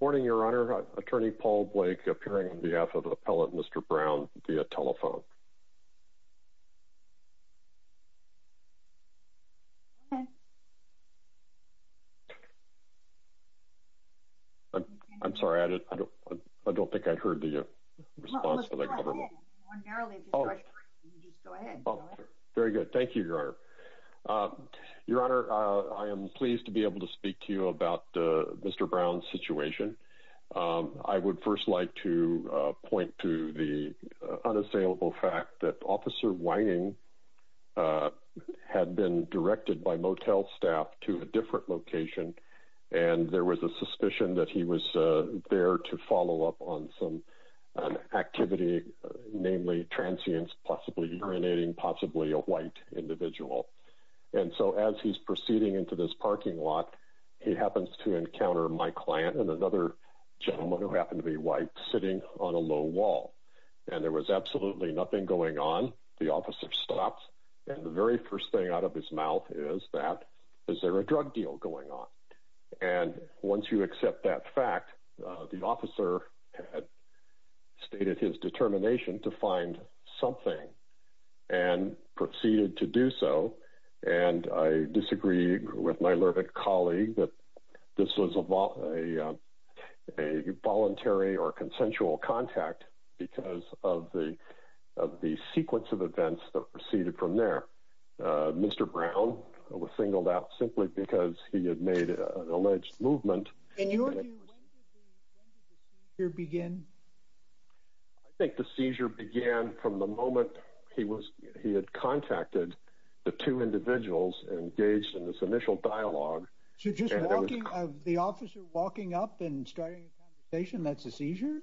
morning your honor attorney paul blake appearing on behalf of appellate mr brown via telephone i'm sorry i don't i don't think i heard the response very good thank you your honor your honor i am pleased to be able to speak to you about mr brown's situation i would first like to point to the unassailable fact that officer whining had been directed by motel staff to a different location and there was a suspicion that he was there to follow up on some activity namely transients possibly urinating possibly a white individual and so as he's proceeding into this parking lot he happens to encounter my client and another gentleman who happened to be white sitting on a low wall and there was absolutely nothing going on the officer stops and the very first thing out of his mouth is that is there a drug deal going on and once you accept that fact the officer had stated his determination to find something and proceeded to do so and i disagree with my lurid colleague that this was a voluntary or consensual contact because of the of the sequence of events that proceeded from there mr brown was singled out simply because he had made an alleged movement and you from the moment he was he had contacted the two individuals engaged in this initial dialogue so just walking of the officer walking up and starting a conversation that's a seizure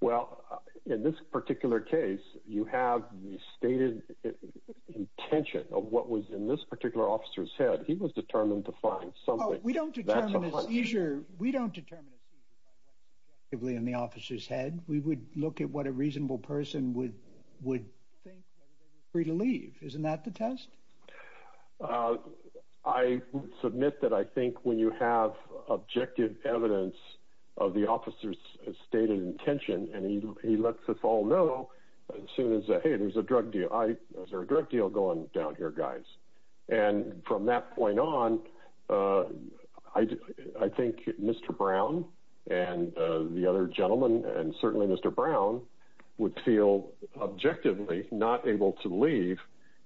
well in this particular case you have the stated intention of what was in this particular officer's head he was determined to find something we don't determine the seizure we don't determine a seizure by what's objectively in the officer's head we would look at what a reasonable person would would think whether they were free to leave isn't that the test i submit that i think when you have objective evidence of the officer's stated intention and he lets us all know as soon as hey there's a drug deal i there's a drug deal going down here guys and from that point on uh i i think mr brown and uh the other gentlemen and certainly mr brown would feel objectively not able to leave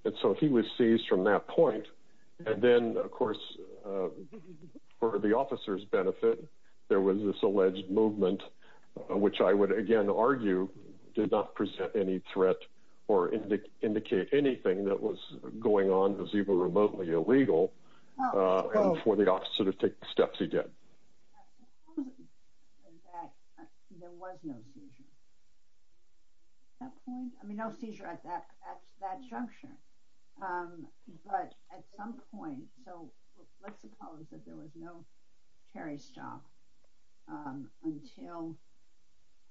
and so he was seized from that point and then of course for the officer's benefit there was this alleged movement which i would again argue did not present any threat or indicate anything that was going on was even remotely illegal for the officer to take steps he did there was no seizure at that point i mean no seizure at that at that juncture um but at some point so let's suppose that there was no carry stop um until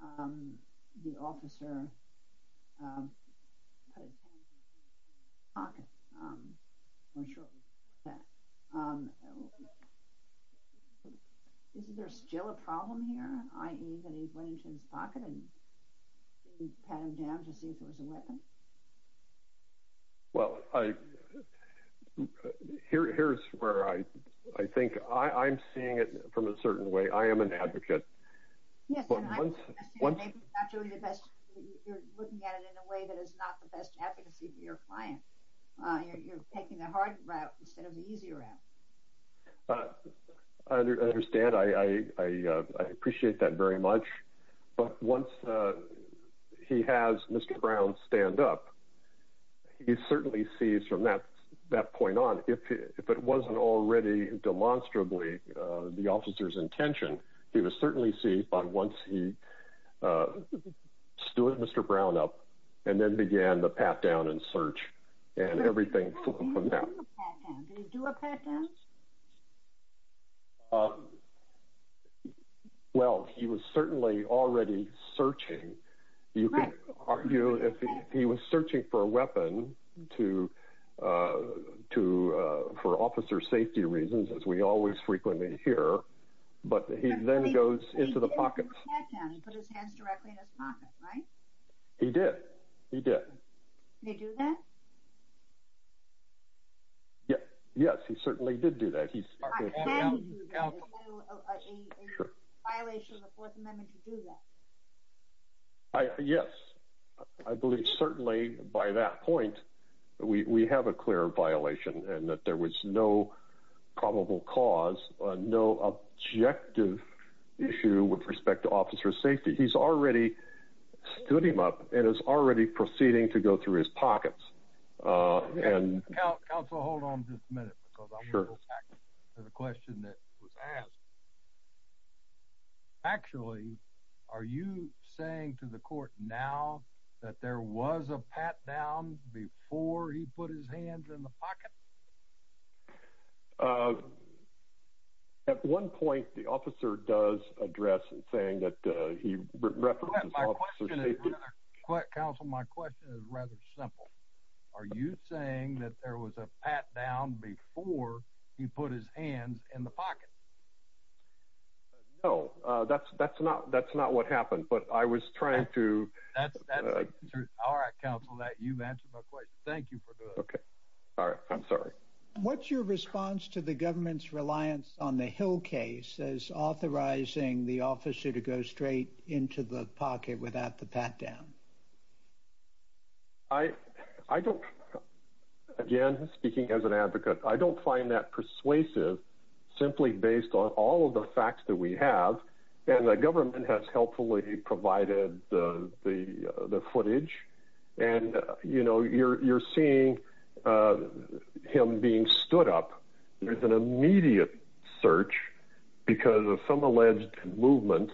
um the officer um pocket um i'm sure that um is there still a problem here i.e that he went into his pocket and pat him down to see if there was a weapon well i i here here's where i i think i i'm seeing it from a certain way i am an advocate yes one actually the best you're looking at it in a way that is not the best advocacy for your client uh you're taking the hard route instead of the easy route i understand i i i uh i appreciate that very much but once uh he has mr brown stand up he certainly sees from that that point on if if it wasn't already demonstrably uh the officer's intention he was certainly see but once he uh stood mr brown up and then began the pat down and search and everything from that do a pat down um well he was certainly already searching you can argue if he was searching for a weapon to uh to uh for officer safety reasons as we always frequently hear but he then goes into the pocket put his hands directly in his pocket right he did he did they do that yes yes he certainly did do that he's can you do a violation of the fourth amendment to do that i yes i believe certainly by that point we we have a clear violation and that there was no probable cause no objective issue with respect to officer safety he's already stood him up and is already proceeding to go through his pockets uh and council hold on just a minute because i'll go back to the question that was asked actually are you saying to the court now that there was a pat down before he put his hands in pocket uh at one point the officer does address and saying that uh he references counsel my question is rather simple are you saying that there was a pat down before he put his hands in the pocket no uh that's that's not that's not what happened but i was trying to that's that's all right counsel that you've answered my question thank you for doing okay all right i'm sorry what's your response to the government's reliance on the hill case as authorizing the officer to go straight into the pocket without the pat down i i don't again speaking as an advocate i don't find that persuasive simply based on all of the facts that we have and the government has helpfully provided the the the footage and you know you're you're seeing uh him being stood up there's an immediate search because of some alleged movement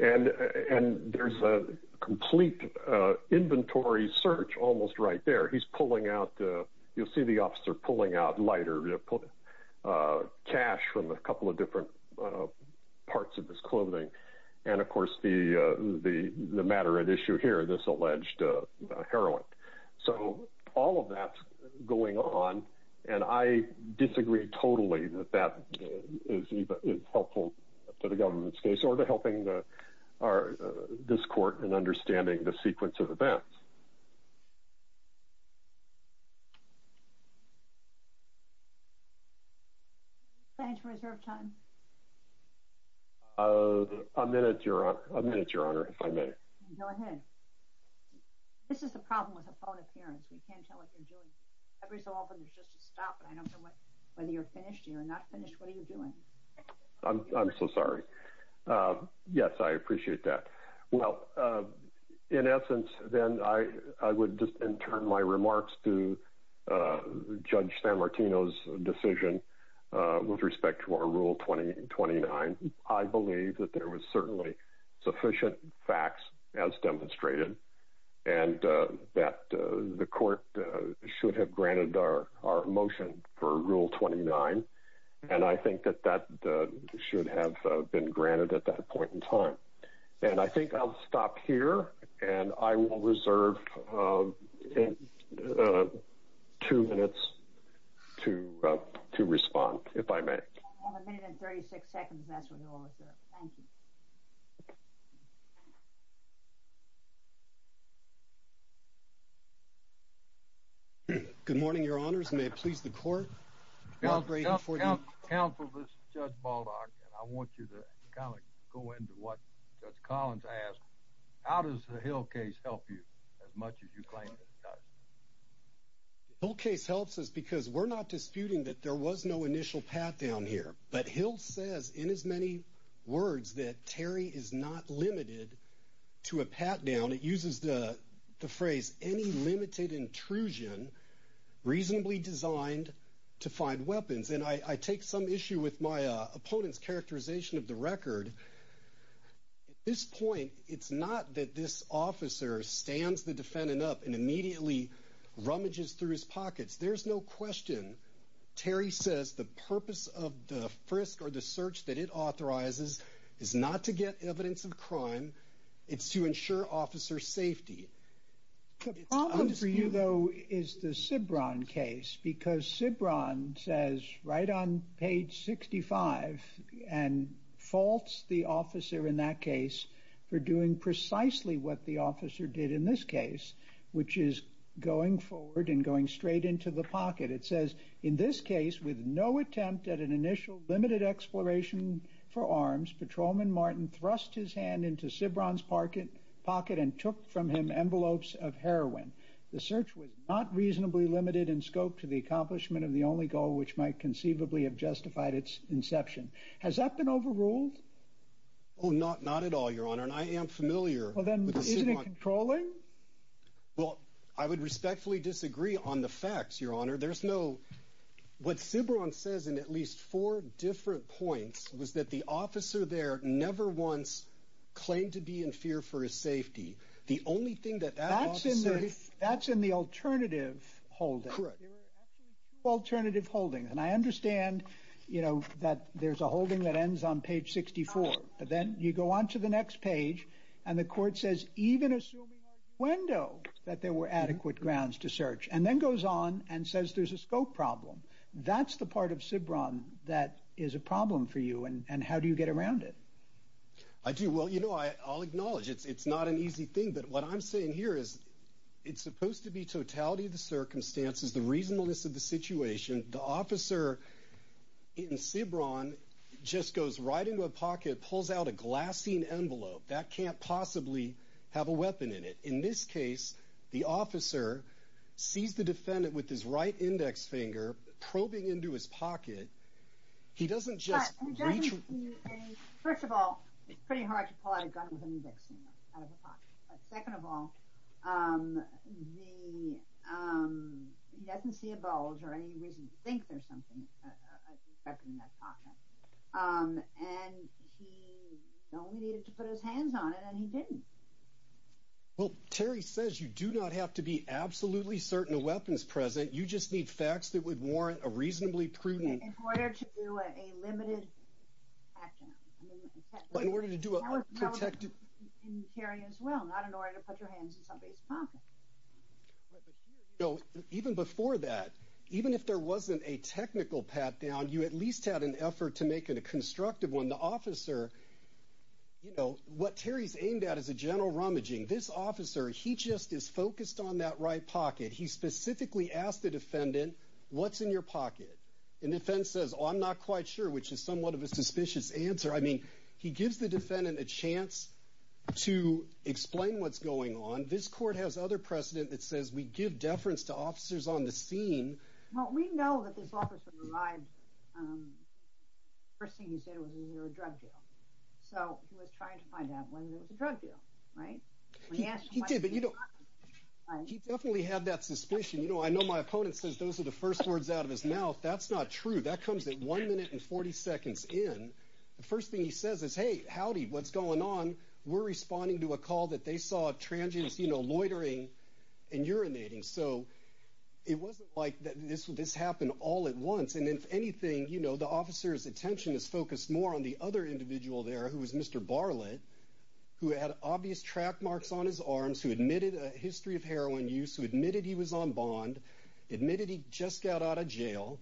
and and there's a complete uh inventory search almost right there he's pulling out uh you'll see the officer pulling out lighter uh cash from a couple of different parts of his clothing and of course the uh the the matter at issue here this alleged uh heroin so all of that's going on and i disagree totally that that is helpful to the government's case or to helping the our this court and understanding the sequence of events thank you for your time uh a minute your honor a minute your honor if i may go ahead this is the problem with a phone appearance we can't tell what you're doing every so often there's just a stop but i don't know what whether you're finished you're not finished what are you doing i'm i'm so sorry uh yes i appreciate that well uh in essence then i i would just in turn my remarks to uh judge san martino's decision uh with respect to our rule 2029 i believe that there was certainly sufficient facts as demonstrated and uh that the court should have granted our our motion for rule 29 and i think that that should have been granted at that point in time and i think i'll stop here and i will reserve um two minutes to uh to respond if i may good morning your honors may it please the court counsel counsel this is judge baldock and i want you to kind of go into what judge collins asked how does the hill case help you as much as you claim that it does hill case helps us because we're not disputing that there was no initial pat down here but hill says in as many words that terry is not limited to a pat down it uses the the phrase any limited intrusion reasonably designed to find weapons and i i take some issue with my uh opponent's characterization of the record at this point it's not that this officer stands the defendant up and immediately rummages through his pockets there's no question terry says the purpose of the frisk or the search that it authorizes is not to get evidence of crime it's to ensure officer safety the problem for you though is the sibron case because sibron says right on page 65 and faults the officer in that case for doing precisely what the officer did in this case which is going forward and going straight into the pocket it says in this case with no attempt at an initial limited exploration for arms patrolman martin thrust his hand into sibron's pocket and took from him envelopes of heroin the search was not reasonably limited in scope to the accomplishment of the only goal which might conceivably have justified its inception has that been overruled oh not not at all your honor and i am familiar well then isn't it controlling well i would respectfully disagree on the facts your honor there's no what sibron says in at least four different points was that the officer there never once claimed to be in fear for his safety the only thing that that's in there that's in the alternative holding correct there were actually two alternative holdings and i understand you know that there's a holding that ends on page 64 but then you go on to the next page and the court says even assuming our window that there were adequate grounds to search and then goes on and says there's a scope problem that's the part of that is a problem for you and and how do you get around it i do well you know i i'll acknowledge it's it's not an easy thing but what i'm saying here is it's supposed to be totality of the circumstances the reasonableness of the situation the officer in sibron just goes right into a pocket pulls out a glassine envelope that can't possibly have a weapon in it in this case the he doesn't just reach first of all it's pretty hard to pull out a gun with an eviction out of a pocket but second of all um the um he doesn't see a bulge or any reason to think there's something and he only needed to put his hands on it and he didn't well terry says you do not have to be absolutely certain a weapon is present you just need facts that would warrant a reasonably prudent in order to do a limited action in order to do a protected interior as well not in order to put your hands in somebody's pocket right but here you know even before that even if there wasn't a technical pat down you at least had an effort to make it a constructive one the officer you know what terry's aimed at is a general rummaging this officer he just is focused on that right pocket he specifically asked the defendant what's in your pocket and defense says oh i'm not quite sure which is somewhat of a suspicious answer i mean he gives the defendant a chance to explain what's going on this court has other precedent that says we give deference to officers on the scene well we know that this officer arrived um first thing he said was is there a drug deal so he was trying to find out whether there was a drug deal right he did but you know he definitely had that suspicion you know i know my opponent says those are the first words out of his mouth that's not true that comes in one minute and 40 seconds in the first thing he says is hey howdy what's going on we're responding to a call that they saw a transient you know loitering and urinating so it wasn't like that this would this happen all at once and if anything you know the officer's attention is focused more on the other individual there who was mr barlett who had obvious track marks on his arms who admitted a history of heroin use who admitted he was on bond admitted he just got out of jail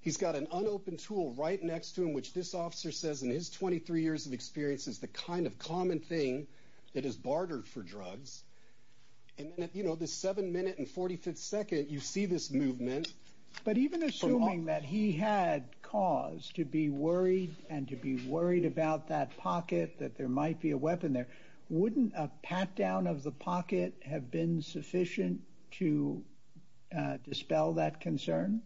he's got an unopened tool right next to him which this officer says in his 23 years of experience is the kind of common thing that is bartered for drugs and then you know this seven minute and 45th second you see this movement but even assuming that he had cause to be worried and to be worried about that pocket that there might be a weapon there wouldn't a pat down of the pocket have been sufficient to dispel that concern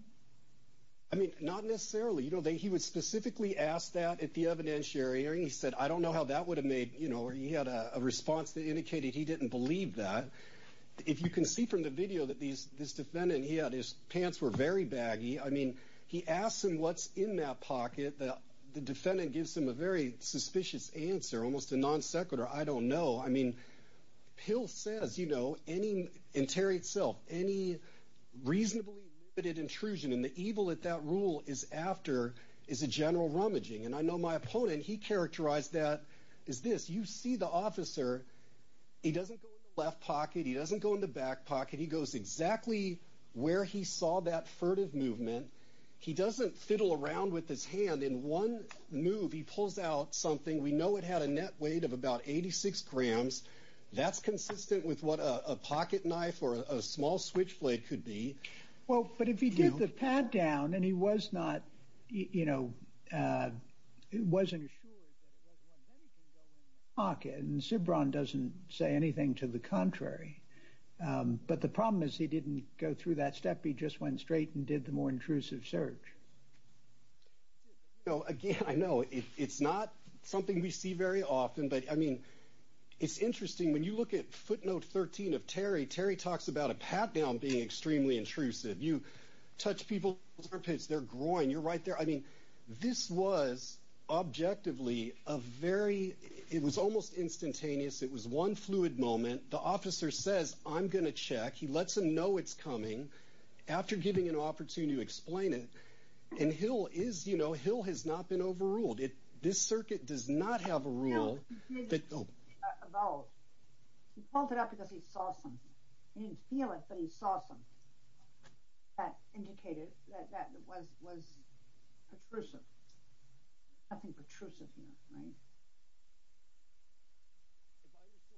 i mean not necessarily you know they he was specifically asked that at the evidentiary he said i don't know how that would have made you know he had a response that indicated he didn't believe that if you can see from the video that these this defendant he had his pants were very baggy i mean he asked him what's in that pocket that the defendant gives him a very suspicious answer almost a non-sequitur i don't know i mean pill says you know any interior itself any reasonably limited intrusion and the evil that that rule is after is a general rummaging and i know my opponent he characterized that is this you see the officer he doesn't go in the left movement he doesn't fiddle around with his hand in one move he pulls out something we know it had a net weight of about 86 grams that's consistent with what a pocket knife or a small switchblade could be well but if he did the pad down and he was not you know uh he wasn't assured that it was pocket and zibron doesn't say anything to the contrary um but the problem is he didn't go through that step he just went straight and did the more intrusive search no again i know it's not something we see very often but i mean it's interesting when you look at footnote 13 of terry terry talks about a pat down being extremely intrusive you touch people's armpits their groin you're right there i mean this was objectively a very it was almost instantaneous it was one fluid moment the officer says i'm gonna check he lets him know it's coming after giving an opportunity to explain it and hill is you know hill has not been overruled it this circuit does not have a rule about he pulled it up because he saw something he didn't feel it but he saw something that indicated that that was was intrusive nothing pertrusive here right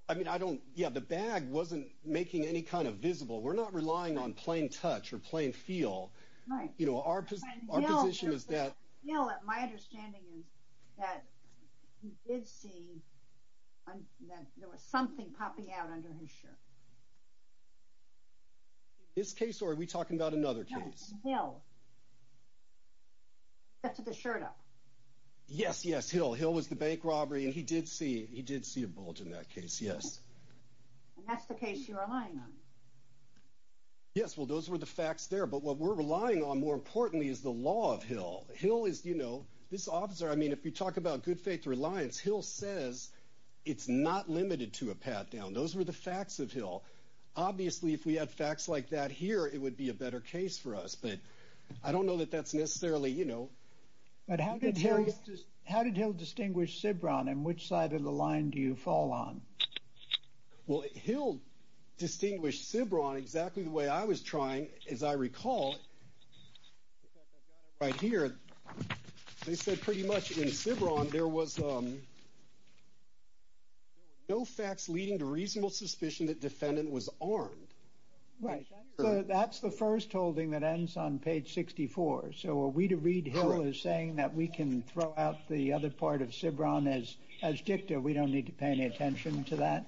i mean i don't yeah the bag wasn't making any kind of visible we're not relying on plain touch or plain feel right you know our position is that you know what my understanding is that he did see that there was something popping out under his shirt this case or are we talking about another case no yes yes hill hill was the bank robbery and he did see he did see a bulge in that case yes and that's the case you're relying on yes well those were the facts there but what we're relying on more importantly is the law of hill hill is you know this officer i mean if you talk about good faith reliance hill says it's not limited to a pat down those were the facts of hill obviously if we had facts like that here it would be a better case for us but i don't know that that's necessarily you know but how did hill how did hill distinguish sibron and which side of the line do you fall on well hill distinguished sibron exactly the way i was trying as i recall right here they said pretty much in sibron there was um no facts leading to reasonable suspicion that defendant was armed right so that's the first holding that ends on page 64 so are we to read hill is saying that we can throw out the other part of sibron as as dicta we don't need to pay any attention to that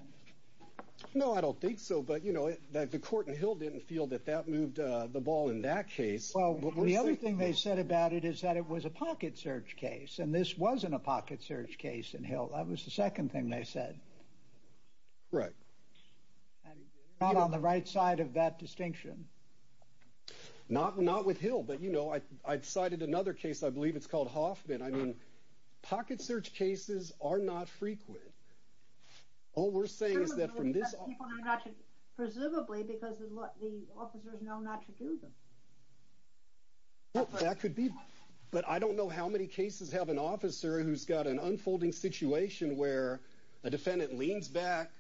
no i don't think so but you know that the court in hill didn't feel that that moved uh the ball in that case well the other thing they said about it is that it was a pocket search case and this wasn't a pocket search case in hill that was the second thing they said right not on the right side of that distinction not not with hill but you know i i decided another case i believe it's called hoffman i mean pocket search cases are not frequent all we're saying is that from this presumably because the officers know not to do them that could be but i don't know how many cases have an officer who's got an unfolding situation where a defendant leans back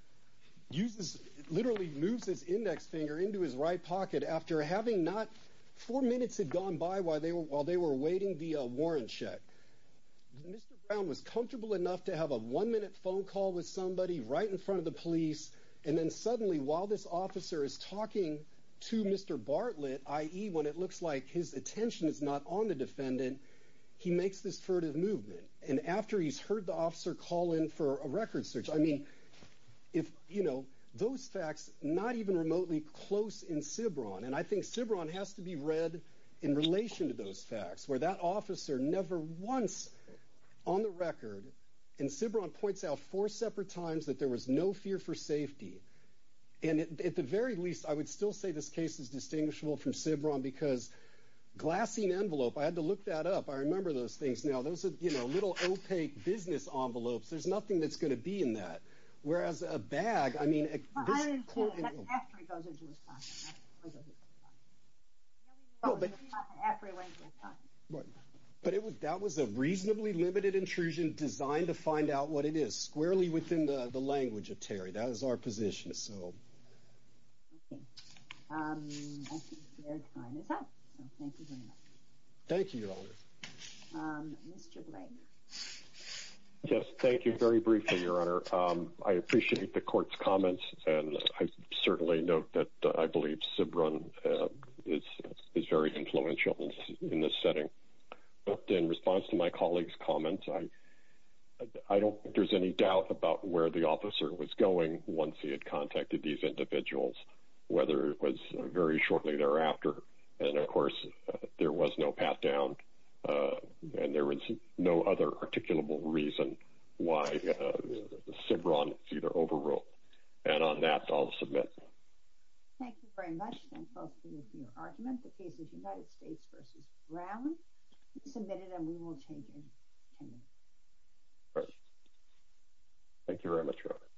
uses literally moves his index finger into his right pocket after having not four minutes had gone by while they were while they were waiting the warrant check mr brown was comfortable enough to have a one minute phone call with somebody right in front of the police and then suddenly while this officer is talking to mr bartlett i.e when it looks like his attention is not on the defendant he makes this furtive movement and after he's heard the officer call in for a record search i mean if you know those facts not even remotely close in sibron and i think sibron has to be read in relation to those facts where that officer never once on the record and sibron points out four separate times that there was no fear for safety and at the very least i would still say this case is distinguishable from sibron because glassine envelope i had to look that up i remember those things now those are you know little business envelopes there's nothing that's going to be in that whereas a bag i mean but it was that was a reasonably limited intrusion designed to find out what it is squarely within the the language of terry that is our position so um i think their time is up so thank you very much thank you your honor um mr blake yes thank you very briefly your honor um i appreciate the court's comments and i certainly note that i believe sibron uh is is very influential in this setting but in response to my colleague's comments i i don't think there's any doubt about where the officer was going once he had contacted these individuals whether it was very shortly thereafter and of course there was no path down uh and there was no other articulable reason why uh the sibron it's either overruled and on that i'll submit thank you very much thank you for your argument the case of united states versus brown submitted and we will change it all right thank you very much